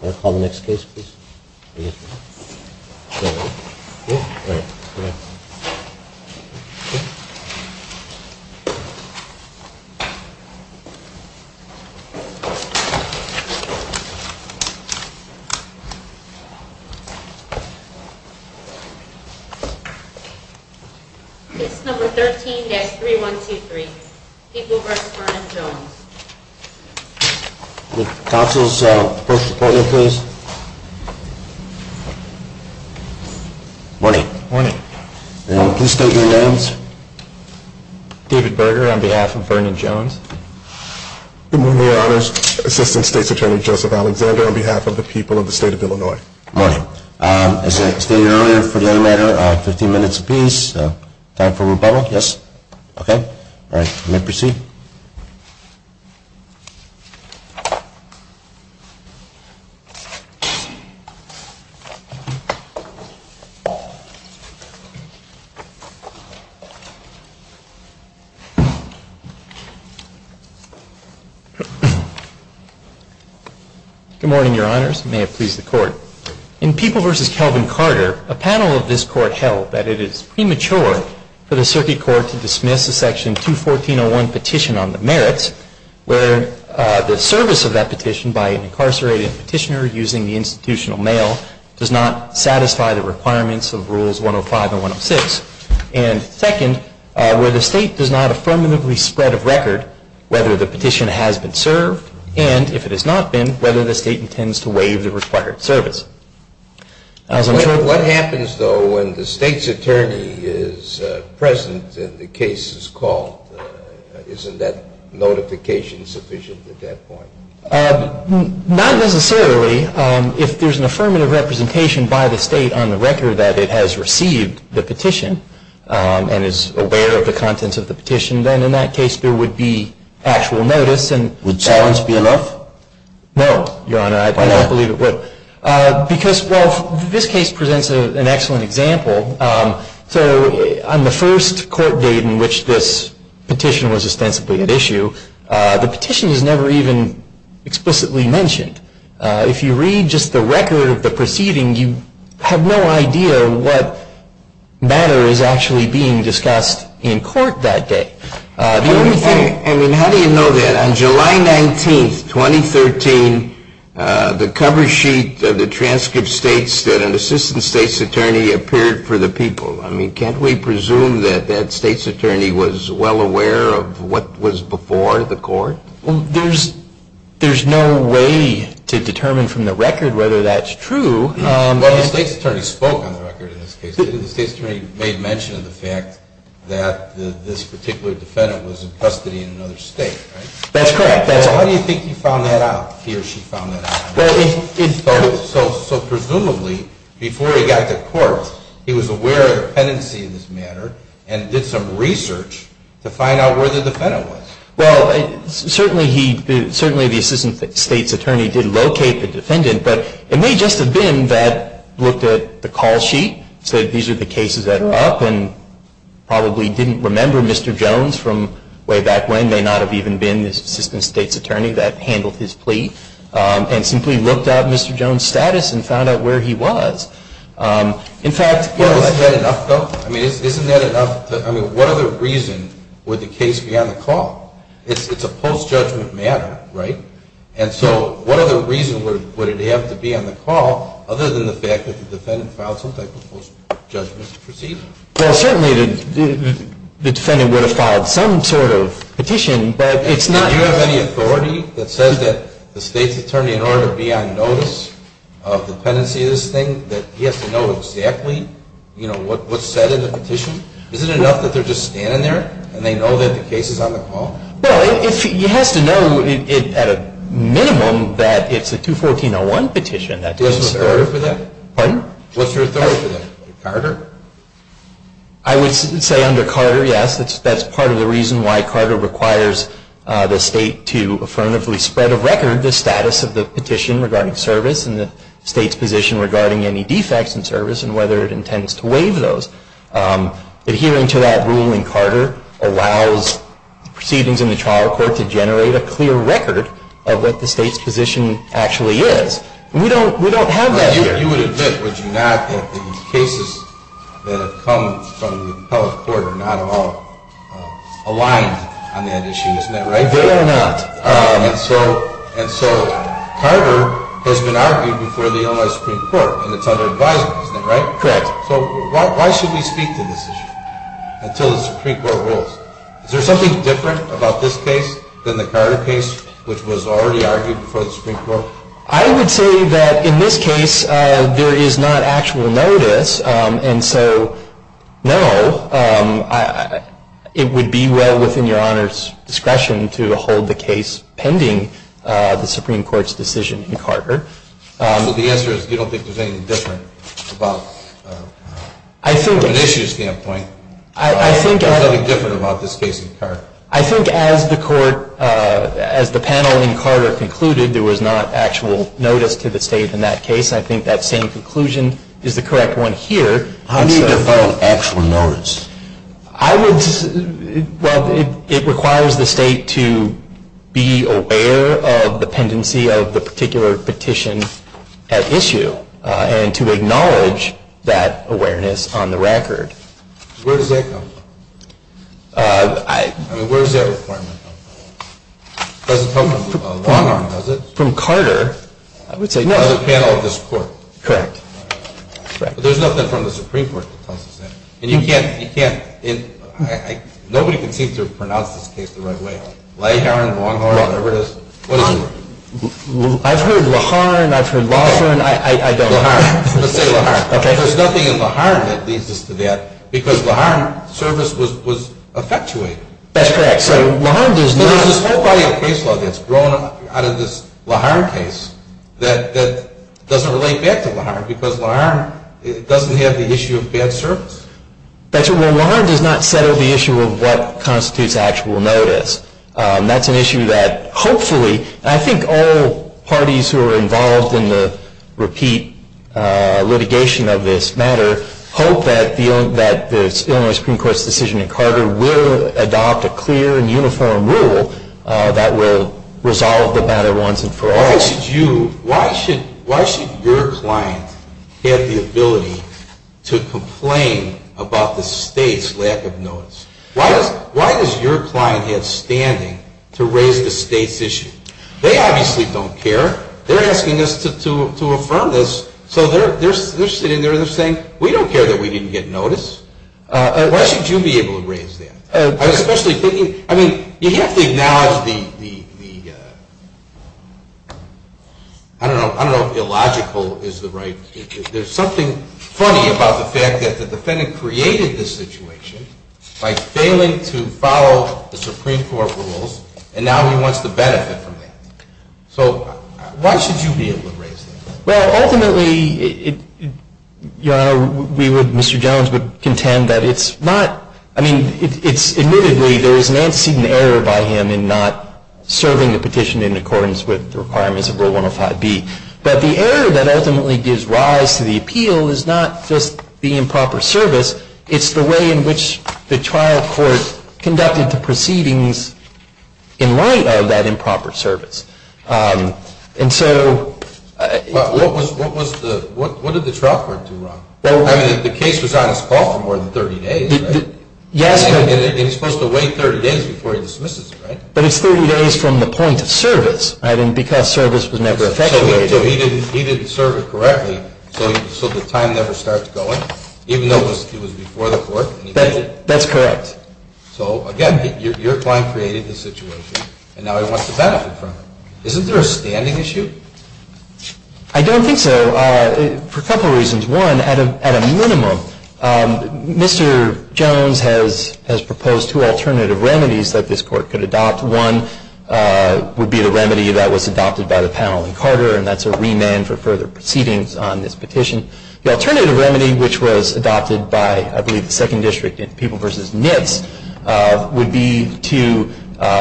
Call the next case, please. It's number 13-3123. David Berger, on behalf of Vernon Jones. Good morning, Your Honors. Assistant State's Attorney, Joseph Alexander, on behalf of the people of the state of Illinois. Good morning. As stated earlier for the animator, 15 minutes apiece. Time for rebuttal? Yes? Okay. All right, may I proceed? Good morning, Your Honors. May it please the Court. In People v. Calvin Carter, a panel of this Court held that it is premature for the circuit court to dismiss a Section 214.01 petition on the merits where the service of that petition by an incarcerated petitioner using the institutional mail does not satisfy the requirements of Rules 105 and 106. And second, where the state does not affirmatively spread of record whether the petition has been served and, if it has not been, whether the state intends to waive the required service. What happens, though, when the state's attorney is present and the case is called? Isn't that notification sufficient at that point? Not necessarily. If there's an affirmative representation by the state on the record that it has received the petition and is aware of the contents of the petition, then in that case there would be actual notice. Would silence be enough? No, Your Honor. I don't believe it would. Why not? Because, well, this case presents an excellent example. So on the first court date in which this petition was ostensibly at issue, the petition is never even explicitly mentioned. If you read just the record of the proceeding, you have no idea what matter is actually being discussed in court that day. The only thing, I mean, how do you know that? On July 19th, 2013, the cover sheet of the transcript states that an assistant state's attorney appeared for the people. I mean, can't we presume that that state's attorney was well aware of what was before the court? Well, there's no way to determine from the record whether that's true. Well, the state's attorney spoke on the record in this case. The state's attorney made mention of the fact that this particular defendant was in custody in another state, right? That's correct. How do you think he found that out, he or she found that out? So presumably, before he got to court, he was aware of the pendency in this matter and did some research to find out where the defendant was. Well, certainly the assistant state's attorney did locate the defendant, but it may just have been that he had looked at the call sheet, said these are the cases that are up, and probably didn't remember Mr. Jones from way back when, may not have even been the assistant state's attorney that handled his plea, and simply looked up Mr. Jones' status and found out where he was. In fact, you know, I think... Isn't that enough, though? I mean, isn't that enough? I mean, what other reason would the case be on the call? It's a post-judgment matter, right? And so what other reason would it have to be on the call other than the fact that the defendant filed some type of post-judgment proceeding? Well, certainly the defendant would have filed some sort of petition, but it's not... Do you have any authority that says that the state's attorney, in order to be on notice of the pendency of this thing, that he has to know exactly, you know, what's said in the petition? Isn't it enough that they're just standing there and they know that the case is on the call? Well, he has to know, at a minimum, that it's a 214-01 petition. Do you have some authority for that? Pardon? What's your authority for that? Carter? I would say under Carter, yes, that's part of the reason why Carter requires the state to affirmatively spread of record the status of the petition regarding service and the state's position regarding any defects in service and whether it intends to waive those. Adhering to that rule in Carter allows proceedings in the trial court to generate a clear record of what the state's position actually is. We don't have that here. You would admit, would you not, that the cases that have come from the appellate court are not all aligned on that issue, isn't that right? They are not. And so Carter has been argued before the Illinois Supreme Court, and it's under advisement, isn't that right? Correct. So why should we speak to this issue until the Supreme Court rules? Is there something different about this case than the Carter case, which was already argued before the Supreme Court? I would say that in this case there is not actual notice, and so no, it would be well within your Honor's discretion to hold the case pending the Supreme Court's decision in Carter. So the answer is you don't think there's anything different about, from an issue standpoint, there's nothing different about this case in Carter? I think as the panel in Carter concluded, there was not actual notice to the state in that case. I think that same conclusion is the correct one here. How do you define actual notice? Well, it requires the state to be aware of the pendency of the particular petition at issue and to acknowledge that awareness on the record. Where does that come from? I mean, where does that requirement come from? It doesn't come from Long Island, does it? From Carter, I would say no. No, the panel of this court. Correct. There's nothing from the Supreme Court that tells us that. And you can't, you can't, nobody can seem to pronounce this case the right way. Leharne, Long Island, whatever it is. I've heard Laharne, I've heard Lawson, I don't know. Let's say Laharne. Okay. There's nothing in Laharne that leads us to that because Laharne service was effectuated. That's correct. So Laharne does not. So there's this whole body of case law that's grown out of this Laharne case that doesn't relate back to Laharne because Laharne doesn't have the issue of bad service? That's right. Well, Laharne does not settle the issue of what constitutes actual notice. That's an issue that hopefully, and I think all parties who are involved in the repeat litigation of this matter, hope that the Illinois Supreme Court's decision in Carter will adopt a clear and uniform rule that will resolve the matter once and for all. Why should you, why should your client have the ability to complain about the state's lack of notice? Why does your client have standing to raise the state's issue? They obviously don't care. They're asking us to affirm this. So they're sitting there and they're saying, we don't care that we didn't get notice. Why should you be able to raise that? I was especially thinking, I mean, you have to acknowledge the, I don't know if illogical is the right, there's something funny about the fact that the defendant created this situation by failing to follow the Supreme Court rules, and now he wants the benefit from that. So why should you be able to raise that? Well, ultimately, Your Honor, we would, Mr. Jones would contend that it's not, I mean, it's admittedly there is an antecedent error by him in not serving the petition in accordance with the requirements of Rule 105B. But the error that ultimately gives rise to the appeal is not just the improper service, it's the way in which the trial court conducted the proceedings in light of that improper service. What did the trial court do wrong? I mean, the case was on his call for more than 30 days, right? Yes. And he's supposed to wait 30 days before he dismisses it, right? But it's 30 days from the point of service, because service was never effectuated. So he didn't serve it correctly, so the time never starts going, even though it was before the court. That's correct. So, again, your client created this situation, and now he wants the benefit from it. Isn't there a standing issue? I don't think so, for a couple of reasons. One, at a minimum, Mr. Jones has proposed two alternative remedies that this court could adopt. One would be the remedy that was adopted by the panel in Carter, and that's a remand for further proceedings on this petition. The alternative remedy, which was adopted by, I believe, the Second District in People v. Nitz, would be to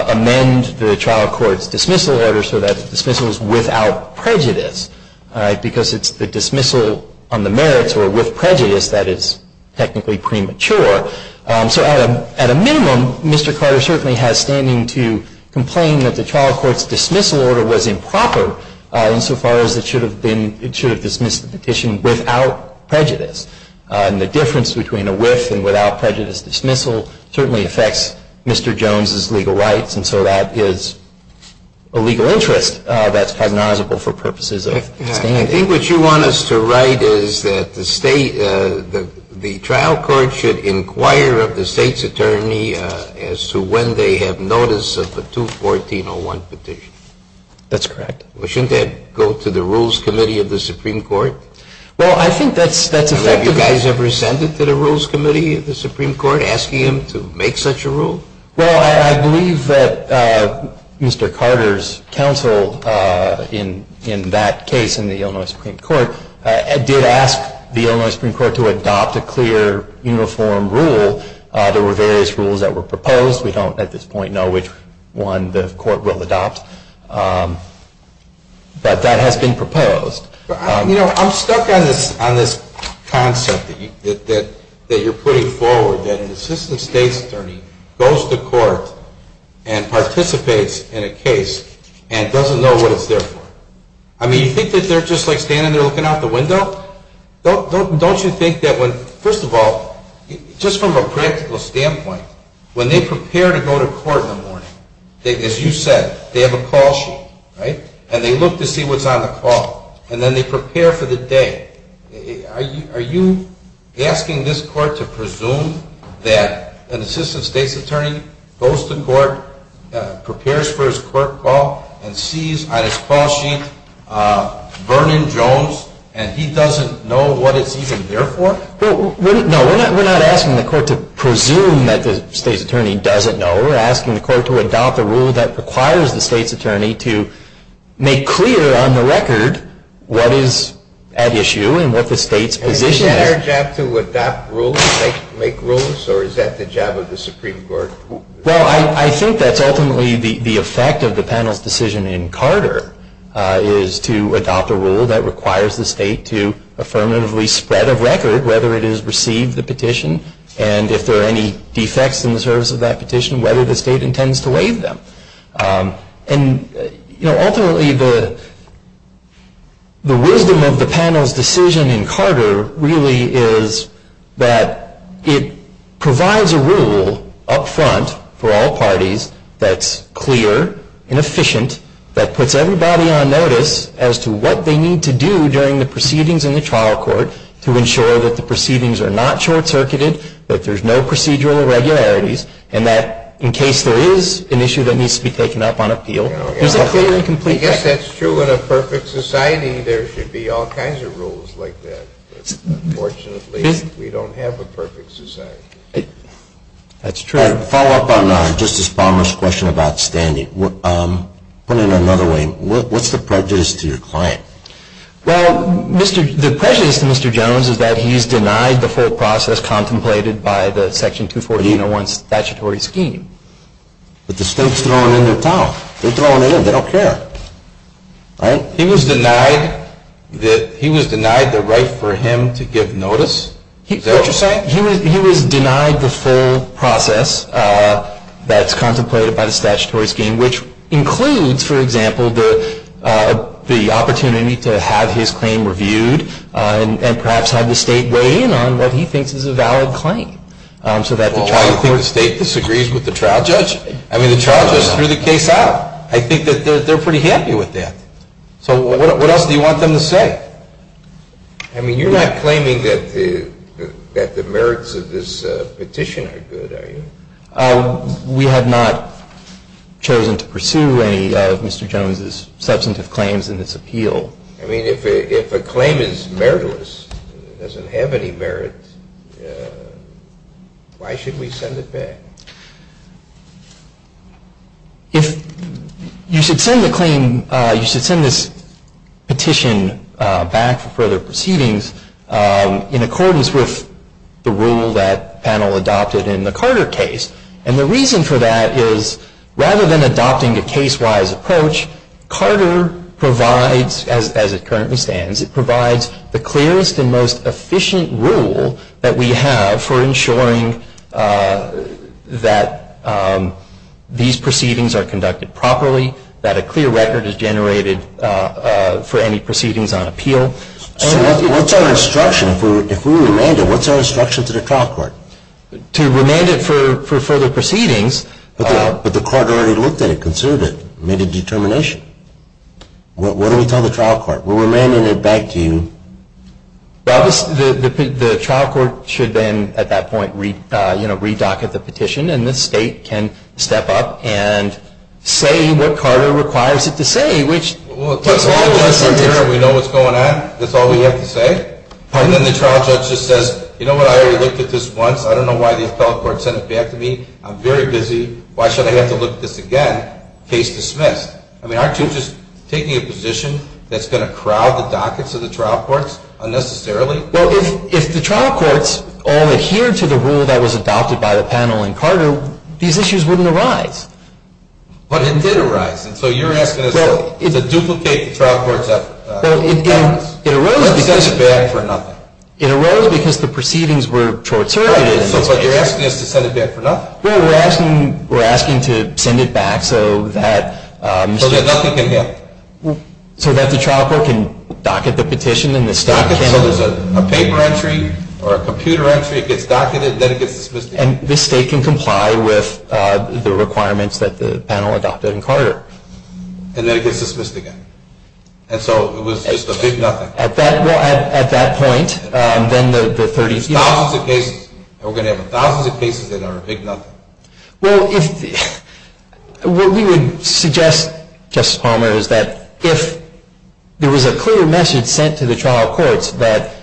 amend the trial court's dismissal order so that the dismissal is without prejudice, because it's the dismissal on the merits or with prejudice that is technically premature. So at a minimum, Mr. Carter certainly has standing to complain that the trial court's dismissal order was improper, insofar as it should have dismissed the petition without prejudice. And the difference between a with and without prejudice dismissal certainly affects Mr. Jones's legal rights, and so that is a legal interest that's cognizable for purposes of standing. I think what you want us to write is that the trial court should inquire of the state's attorney as to when they have notice of the 214-01 petition. That's correct. Well, shouldn't that go to the Rules Committee of the Supreme Court? Well, I think that's effective. Have you guys ever sent it to the Rules Committee of the Supreme Court, asking them to make such a rule? Well, I believe that Mr. Carter's counsel in that case, in the Illinois Supreme Court, did ask the Illinois Supreme Court to adopt a clear, uniform rule. There were various rules that were proposed. We don't, at this point, know which one the court will adopt, but that has been proposed. You know, I'm stuck on this concept that you're putting forward, that an assistant state's attorney goes to court and participates in a case and doesn't know what it's there for. I mean, you think that they're just, like, standing there looking out the window? Don't you think that when, first of all, just from a practical standpoint, when they prepare to go to court in the morning, as you said, they have a call sheet, right? And they look to see what's on the call. And then they prepare for the day. Are you asking this court to presume that an assistant state's attorney goes to court, prepares for his court call, and sees on his call sheet Vernon Jones, and he doesn't know what it's even there for? No, we're not asking the court to presume that the state's attorney doesn't know. We're asking the court to adopt a rule that requires the state's attorney to make clear on the record what is at issue and what the state's position is. Is it their job to adopt rules, make rules, or is that the job of the Supreme Court? Well, I think that's ultimately the effect of the panel's decision in Carter, is to adopt a rule that requires the state to affirmatively spread of record whether it has received the petition and if there are any defects in the service of that petition, whether the state intends to waive them. And ultimately, the wisdom of the panel's decision in Carter really is that it provides a rule up front for all parties that's clear and efficient, that puts everybody on notice as to what they need to do during the proceedings in the trial court to ensure that the proceedings are not short-circuited, that there's no procedural irregularities, and that in case there is an issue that needs to be taken up on appeal, there's a clear and complete record. I guess that's true. In a perfect society, there should be all kinds of rules like that. Unfortunately, we don't have a perfect society. That's true. To follow up on Justice Palmer's question about standing, put it another way, what's the prejudice to your client? Well, the prejudice to Mr. Jones is that he's denied the full process contemplated by the Section 240-801 statutory scheme. But the state's throwing in their towel. They're throwing it in. They don't care. He was denied the right for him to give notice? Is that what you're saying? He was denied the full process that's contemplated by the statutory scheme, which includes, for example, the opportunity to have his claim reviewed and perhaps have the state weigh in on what he thinks is a valid claim. Well, why do you think the state disagrees with the trial judge? I mean, the trial judge threw the case out. I think that they're pretty happy with that. So what else do you want them to say? I mean, you're not claiming that the merits of this petition are good, are you? We have not chosen to pursue any of Mr. Jones' substantive claims in this appeal. I mean, if a claim is meritless, doesn't have any merit, why should we send it back? If you should send the claim, you should send this petition back for further proceedings in accordance with the rule that the panel adopted in the Carter case. And the reason for that is rather than adopting a case-wise approach, Carter provides, as it currently stands, it provides the clearest and most efficient rule that we have for ensuring that these proceedings are conducted properly, that a clear record is generated for any proceedings on appeal. So what's our instruction? If we remand it, what's our instruction to the trial court? To remand it for further proceedings. But the court already looked at it, considered it, made a determination. What do we tell the trial court? We're remanding it back to you. Well, the trial court should then, at that point, re-docket the petition, and the state can step up and say what Carter requires it to say, which puts all of us in terror. We know what's going on. That's all we have to say. And then the trial judge just says, you know what, I already looked at this once. I don't know why the appellate court sent it back to me. I'm very busy. Why should I have to look at this again? Case dismissed. I mean, aren't you just taking a position that's going to crowd the dockets of the trial courts unnecessarily? Well, if the trial courts all adhered to the rule that was adopted by the panel in Carter, these issues wouldn't arise. But it did arise. And so you're asking us to duplicate the trial court's efforts. Well, it arose because the proceedings were short-circuited. Right, but you're asking us to send it back for nothing. Well, we're asking to send it back so that nothing can happen. So that the trial court can docket the petition and the state can. Docket it so there's a paper entry or a computer entry. It gets docketed, then it gets dismissed. And this state can comply with the requirements that the panel adopted in Carter. And then it gets dismissed again. And so it was just a big nothing. Well, at that point, then the 30th. We're going to have thousands of cases that are a big nothing. Well, what we would suggest, Justice Palmer, is that if there was a clear message sent to the trial courts that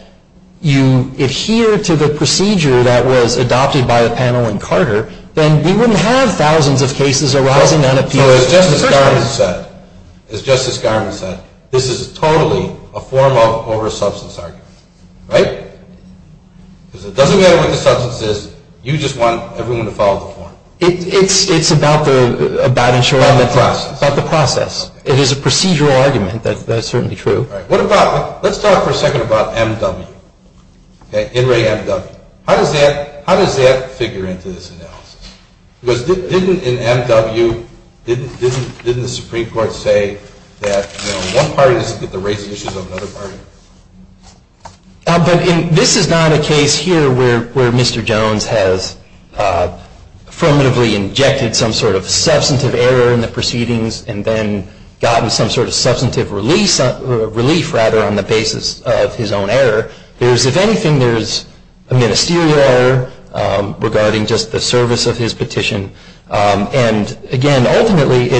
you adhere to the procedure that was adopted by the panel in Carter, then we wouldn't have thousands of cases arising on appeal. As Justice Garment said, this is totally a form of oversubstance argument. Right? Because it doesn't matter what the substance is. You just want everyone to follow the form. It's about the process. It is a procedural argument. That's certainly true. Let's talk for a second about M.W. In re M.W. How does that figure into this analysis? Because didn't in M.W. Didn't the Supreme Court say that one party doesn't get to raise issues of another party? This is not a case here where Mr. Jones has affirmatively injected some sort of substantive error in the proceedings and then gotten some sort of substantive relief on the basis of his own error. If anything, there's a ministerial error regarding just the service of his petition. And again, ultimately,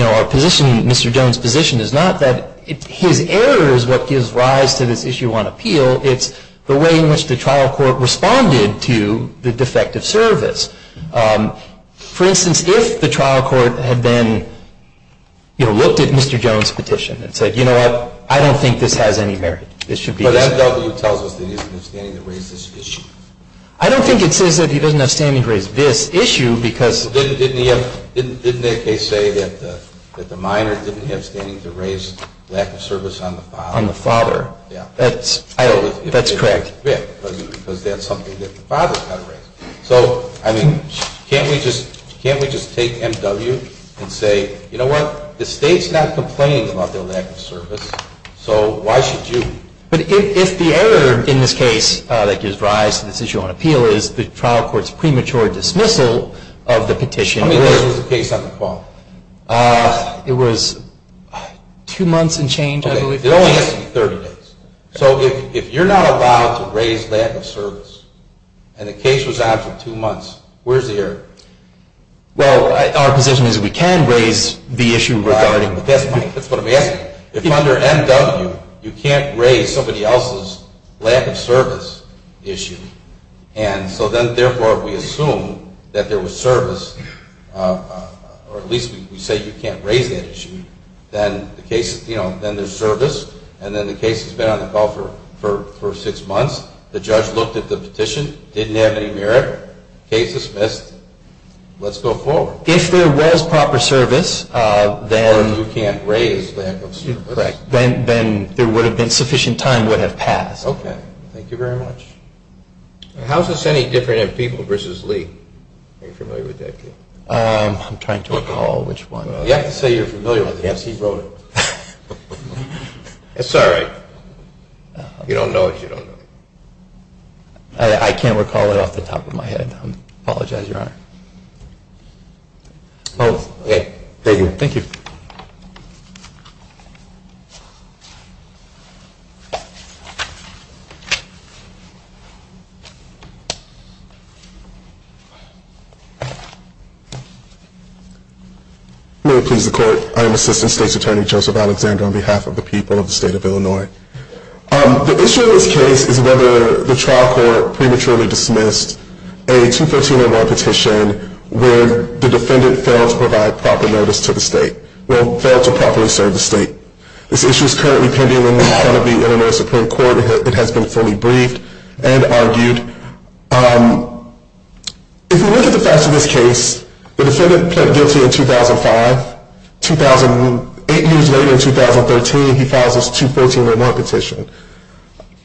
our position, Mr. Jones' position, is not that his error is what gives rise to this issue on appeal. It's the way in which the trial court responded to the defective service. For instance, if the trial court had then looked at Mr. Jones' petition and said, you know what? I don't think this has any merit. But M.W. tells us that he doesn't have standing to raise this issue. I don't think it says that he doesn't have standing to raise this issue because Didn't they say that the minor didn't have standing to raise lack of service on the father? On the father. That's correct. Because that's something that the father's got to raise. So, I mean, can't we just take M.W. and say, you know what? The State's not complaining about their lack of service. So why should you? But if the error in this case that gives rise to this issue on appeal is the trial court's premature dismissal of the petition. I mean, when was the case on the call? It was two months and change, I believe. It only has to be 30 days. So if you're not allowed to raise lack of service and the case was on for two months, where's the error? Well, our position is that we can raise the issue regarding That's what I'm asking. If under M.W. you can't raise somebody else's lack of service issue, and so then therefore we assume that there was service, or at least we say you can't raise that issue, then there's service, and then the case has been on the call for six months, the judge looked at the petition, didn't have any merit, case dismissed, let's go forward. If there was proper service, then there would have been sufficient time would have passed. Okay. Thank you very much. How is this any different in people versus Lee? Are you familiar with that case? I'm trying to recall which one. You have to say you're familiar with it. Yes, he wrote it. It's all right. You don't know it, you don't know it. I can't recall it off the top of my head. I apologize, Your Honor. Thank you. Thank you. May it please the Court. I am Assistant State's Attorney Joseph Alexander on behalf of the people of the State of Illinois. The issue in this case is whether the trial court prematurely dismissed a 213-01 petition where the defendant failed to provide proper notice to the State, well, failed to properly serve the State. This issue is currently pending in front of the Illinois Supreme Court. It has been fully briefed and argued. If you look at the facts of this case, the defendant pled guilty in 2005. Eight years later, in 2013, he files this 213-01 petition.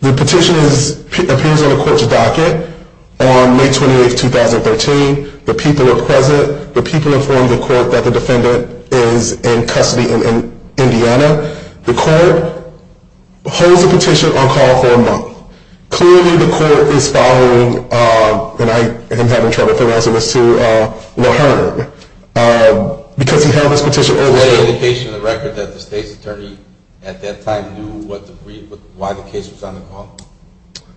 The petition appears on the Court's docket on May 28, 2013. The people are present. The people inform the Court that the defendant is in custody in Indiana. The Court holds the petition on call for a month. Clearly, the Court is following, and I am having trouble for the rest of us too, Laherne, because he held this petition overdue. Is there any indication in the record that the State's Attorney at that time knew why the case was on the call?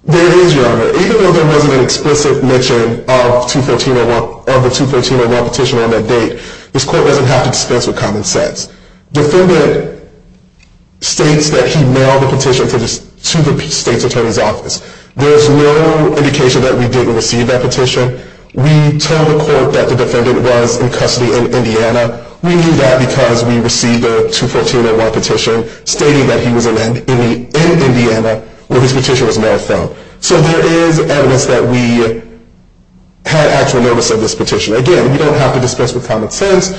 There is, Your Honor. Even though there wasn't an explicit mention of the 213-01 petition on that date, this Court doesn't have to dispense with common sense. The defendant states that he mailed the petition to the State's Attorney's office. There is no indication that we didn't receive that petition. We told the Court that the defendant was in custody in Indiana. We knew that because we received a 213-01 petition stating that he was in Indiana where his petition was mailed from. So there is evidence that we had actual notice of this petition. Again, we don't have to dispense with common sense.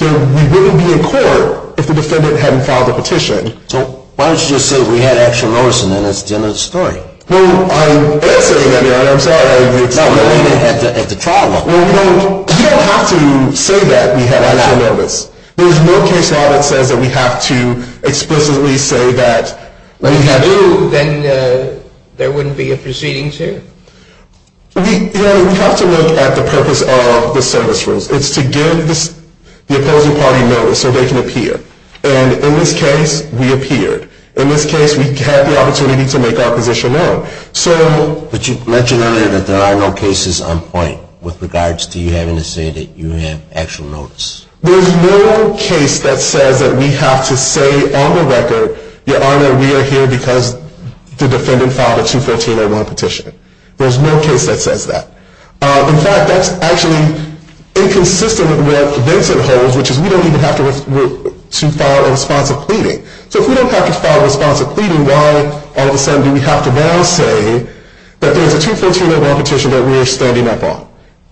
We wouldn't be in court if the defendant hadn't filed the petition. So why don't you just say we had actual notice, and then that's the end of the story? Well, I'm answering that, Your Honor. I'm sorry. It's not that we didn't have the trial. Well, we don't have to say that we had actual notice. There is no case law that says that we have to explicitly say that we had actual notice. If you do, then there wouldn't be a proceedings here? We have to look at the purpose of the service rules. It's to give the opposing party notice so they can appear. And in this case, we appeared. In this case, we had the opportunity to make our position known. But you mentioned earlier that there are no cases on point with regards to you having to say that you had actual notice. There is no case that says that we have to say on the record, Your Honor, we are here because the defendant filed a 213-01 petition. There is no case that says that. In fact, that's actually inconsistent with what Vincent holds, which is we don't even have to file a response of pleading. So if we don't have to file a response of pleading, why all of a sudden do we have to now say that there is a 213-01 petition that we are standing up on?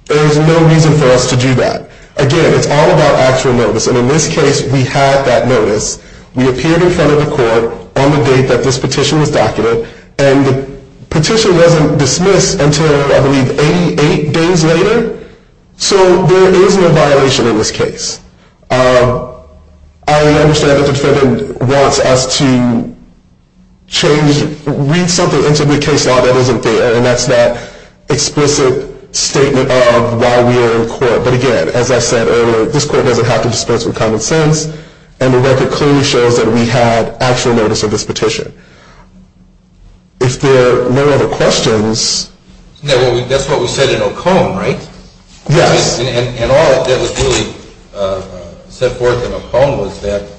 There is no reason for us to do that. Again, it's all about actual notice. And in this case, we had that notice. We appeared in front of the court on the date that this petition was documented. And the petition wasn't dismissed until, I believe, 88 days later. So there is no violation in this case. I understand that the defendant wants us to read something into the case law that isn't there. And that's that explicit statement of why we are in court. But again, as I said earlier, this court doesn't have to dispense with common sense. And the record clearly shows that we had actual notice of this petition. If there are no other questions. That's what we said in Ocone, right? Yes. And all that was really set forth in Ocone was that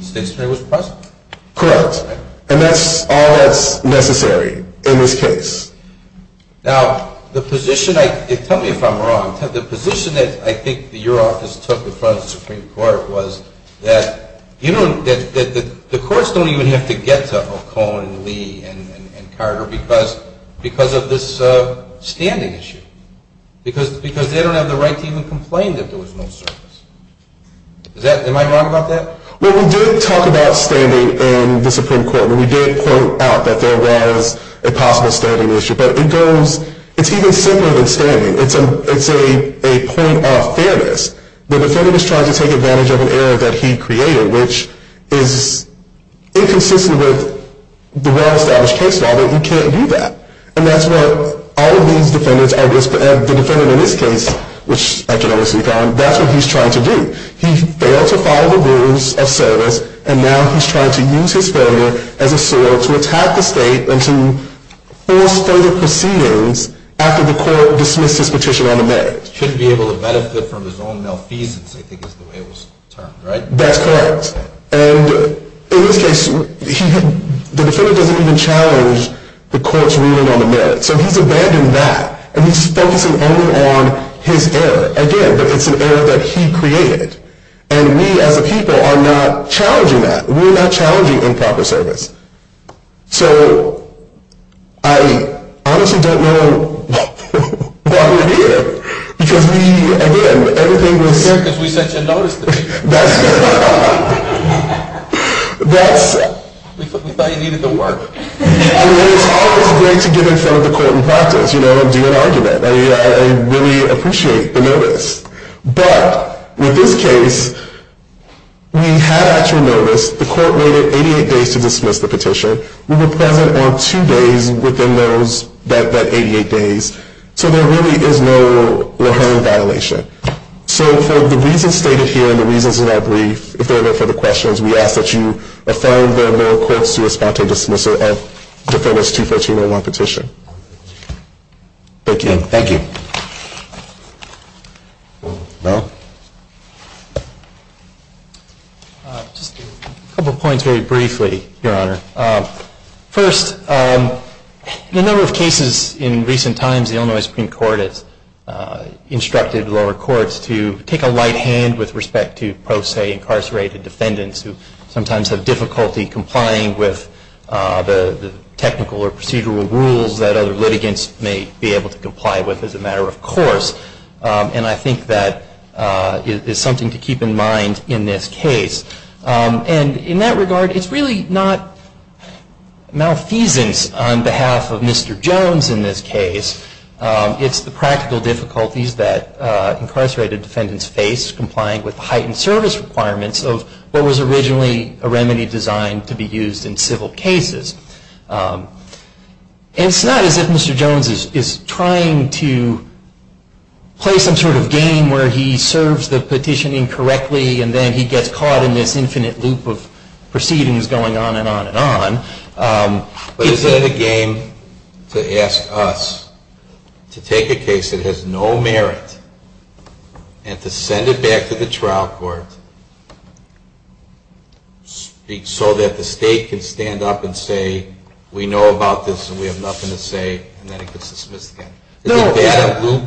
Stixner was present. Correct. And that's all that's necessary in this case. Now, the position I – tell me if I'm wrong. The position that I think your office took in front of the Supreme Court was that, you know, that the courts don't even have to get to Ocone and Lee and Carter because of this standing issue. Because they don't have the right to even complain that there was no service. Is that – am I wrong about that? Well, we did talk about standing in the Supreme Court. And we did point out that there was a possible standing issue. But it goes – it's even simpler than standing. It's a point of fairness. The defendant is trying to take advantage of an error that he created, which is inconsistent with the well-established case law that you can't do that. And that's what all of these defendants are – the defendant in this case, which I can honestly confirm, that's what he's trying to do. He failed to follow the rules of service. And now he's trying to use his failure as a sword to attack the state and to force further proceedings after the court dismissed his petition on the merits. He shouldn't be able to benefit from his own malfeasance, I think is the way it was termed, right? That's correct. And in this case, the defendant doesn't even challenge the court's ruling on the merits. So he's abandoned that, and he's focusing only on his error. Again, it's an error that he created. And we as a people are not challenging that. We're not challenging improper service. So I honestly don't know why we're here, because we – again, everything was – that's – We thought you needed the work. I mean, it's always great to get in front of the court and practice, you know, and do an argument. I mean, I really appreciate the notice. But with this case, we had actual notice. The court waited 88 days to dismiss the petition. We were present on two days within those – that 88 days. So there really is no inherent violation. So for the reasons stated here and the reasons in our brief, if there are no further questions, we ask that you affirm the court's response to dismissal of Defendant's 214-01 petition. Thank you. Thank you. Mel? Just a couple points very briefly, Your Honor. First, in a number of cases in recent times, the Illinois Supreme Court has instructed lower courts to take a light hand with respect to pro se incarcerated defendants who sometimes have difficulty complying with the technical or procedural rules that other litigants may be able to comply with as a matter of course. And I think that is something to keep in mind in this case. And in that regard, it's really not malfeasance on behalf of Mr. Jones in this case. It's the practical difficulties that incarcerated defendants face complying with the heightened service requirements of what was originally a remedy designed to be used in civil cases. And it's not as if Mr. Jones is trying to play some sort of game where he serves the petition incorrectly and then he gets caught in this infinite loop of proceedings going on and on and on. But is it a game to ask us to take a case that has no merit and to send it back to the trial court so that the state can stand up and say, we know about this and we have nothing to say, and then it gets dismissed again? Is it a loop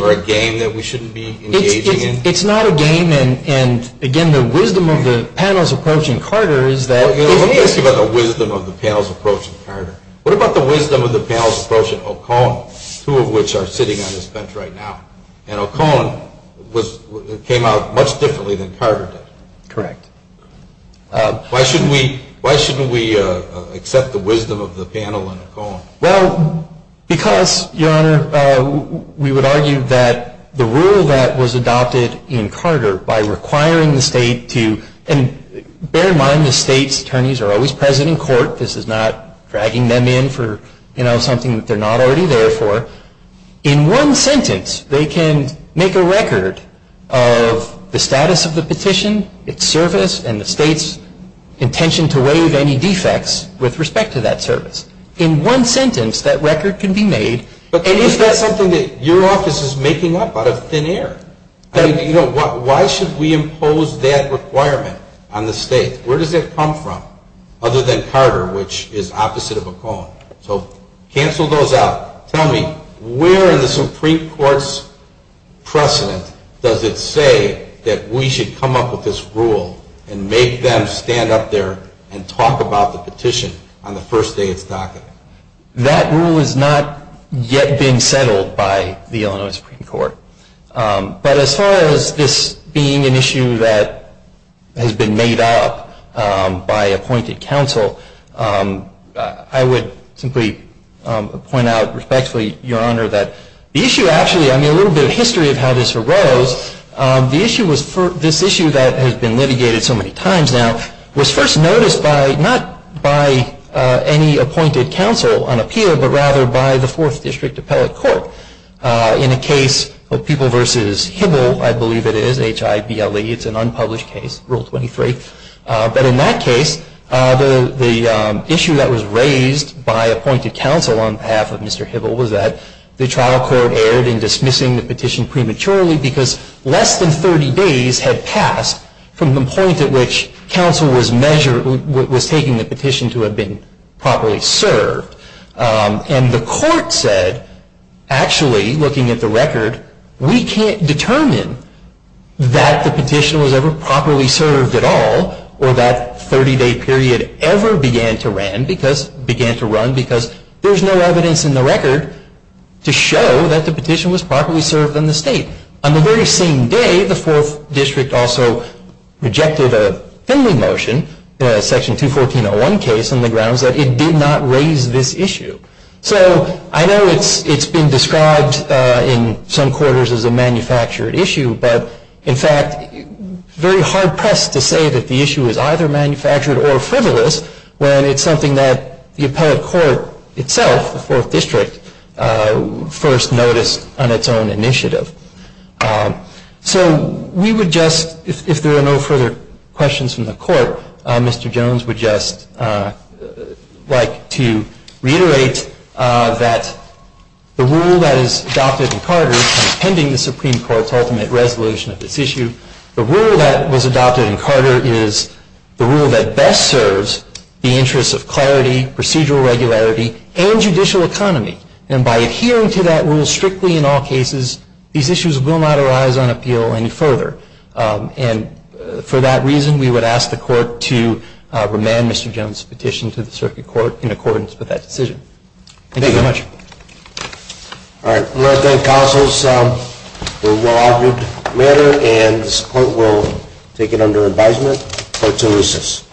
or a game that we shouldn't be engaging in? It's not a game. And, again, the wisdom of the panel's approach in Carter is that – Let me ask you about the wisdom of the panel's approach in Carter. What about the wisdom of the panel's approach in Ocone, two of which are sitting on this bench right now? And Ocone came out much differently than Carter did. Correct. Why shouldn't we accept the wisdom of the panel in Ocone? Well, because, Your Honor, we would argue that the rule that was adopted in Carter by requiring the state to – and bear in mind the state's attorneys are always present in court. This is not dragging them in for something that they're not already there for. In one sentence, they can make a record of the status of the petition, its service, and the state's intention to waive any defects with respect to that service. In one sentence, that record can be made. And is that something that your office is making up out of thin air? I mean, you know, why should we impose that requirement on the state? Where does that come from other than Carter, which is opposite of Ocone? So cancel those out. Tell me, where in the Supreme Court's precedent does it say that we should come up with this rule and make them stand up there and talk about the petition on the first day it's docketed? That rule has not yet been settled by the Illinois Supreme Court. But as far as this being an issue that has been made up by appointed counsel, I would simply point out respectfully, Your Honor, that the issue actually – I mean, a little bit of history of how this arose. This issue that has been litigated so many times now was first noticed not by any appointed counsel on appeal, but rather by the Fourth District Appellate Court in a case of People v. Hibble, I believe it is, H-I-B-L-E. It's an unpublished case, Rule 23. But in that case, the issue that was raised by appointed counsel on behalf of Mr. Hibble was that the trial court erred in dismissing the petition prematurely because less than 30 days had passed from the point at which counsel was taking the petition to have been properly served. And the court said, actually, looking at the record, we can't determine that the petition was ever properly served at all or that 30-day period ever began to run because there's no evidence in the record to show that the petition was properly served in the state. On the very same day, the Fourth District also rejected a Finley motion, Section 214.01 case, on the grounds that it did not raise this issue. So I know it's been described in some quarters as a manufactured issue, but, in fact, very hard-pressed to say that the issue is either manufactured or frivolous when it's something that the appellate court itself, the Fourth District, first noticed on its own initiative. So we would just, if there are no further questions from the court, Mr. Jones would just like to reiterate that the rule that is adopted in Carter, pending the Supreme Court's ultimate resolution of this issue, the rule that was adopted in Carter is the rule that best serves the interests of clarity, procedural regularity, and judicial economy. And by adhering to that rule strictly in all cases, these issues will not arise on appeal any further. And for that reason, we would ask the court to remand Mr. Jones's petition to the Circuit Court in accordance with that decision. Thank you very much. All right. I'm going to thank counsels for the well-argued matter, and this court will take it under advisement. Court is in recess.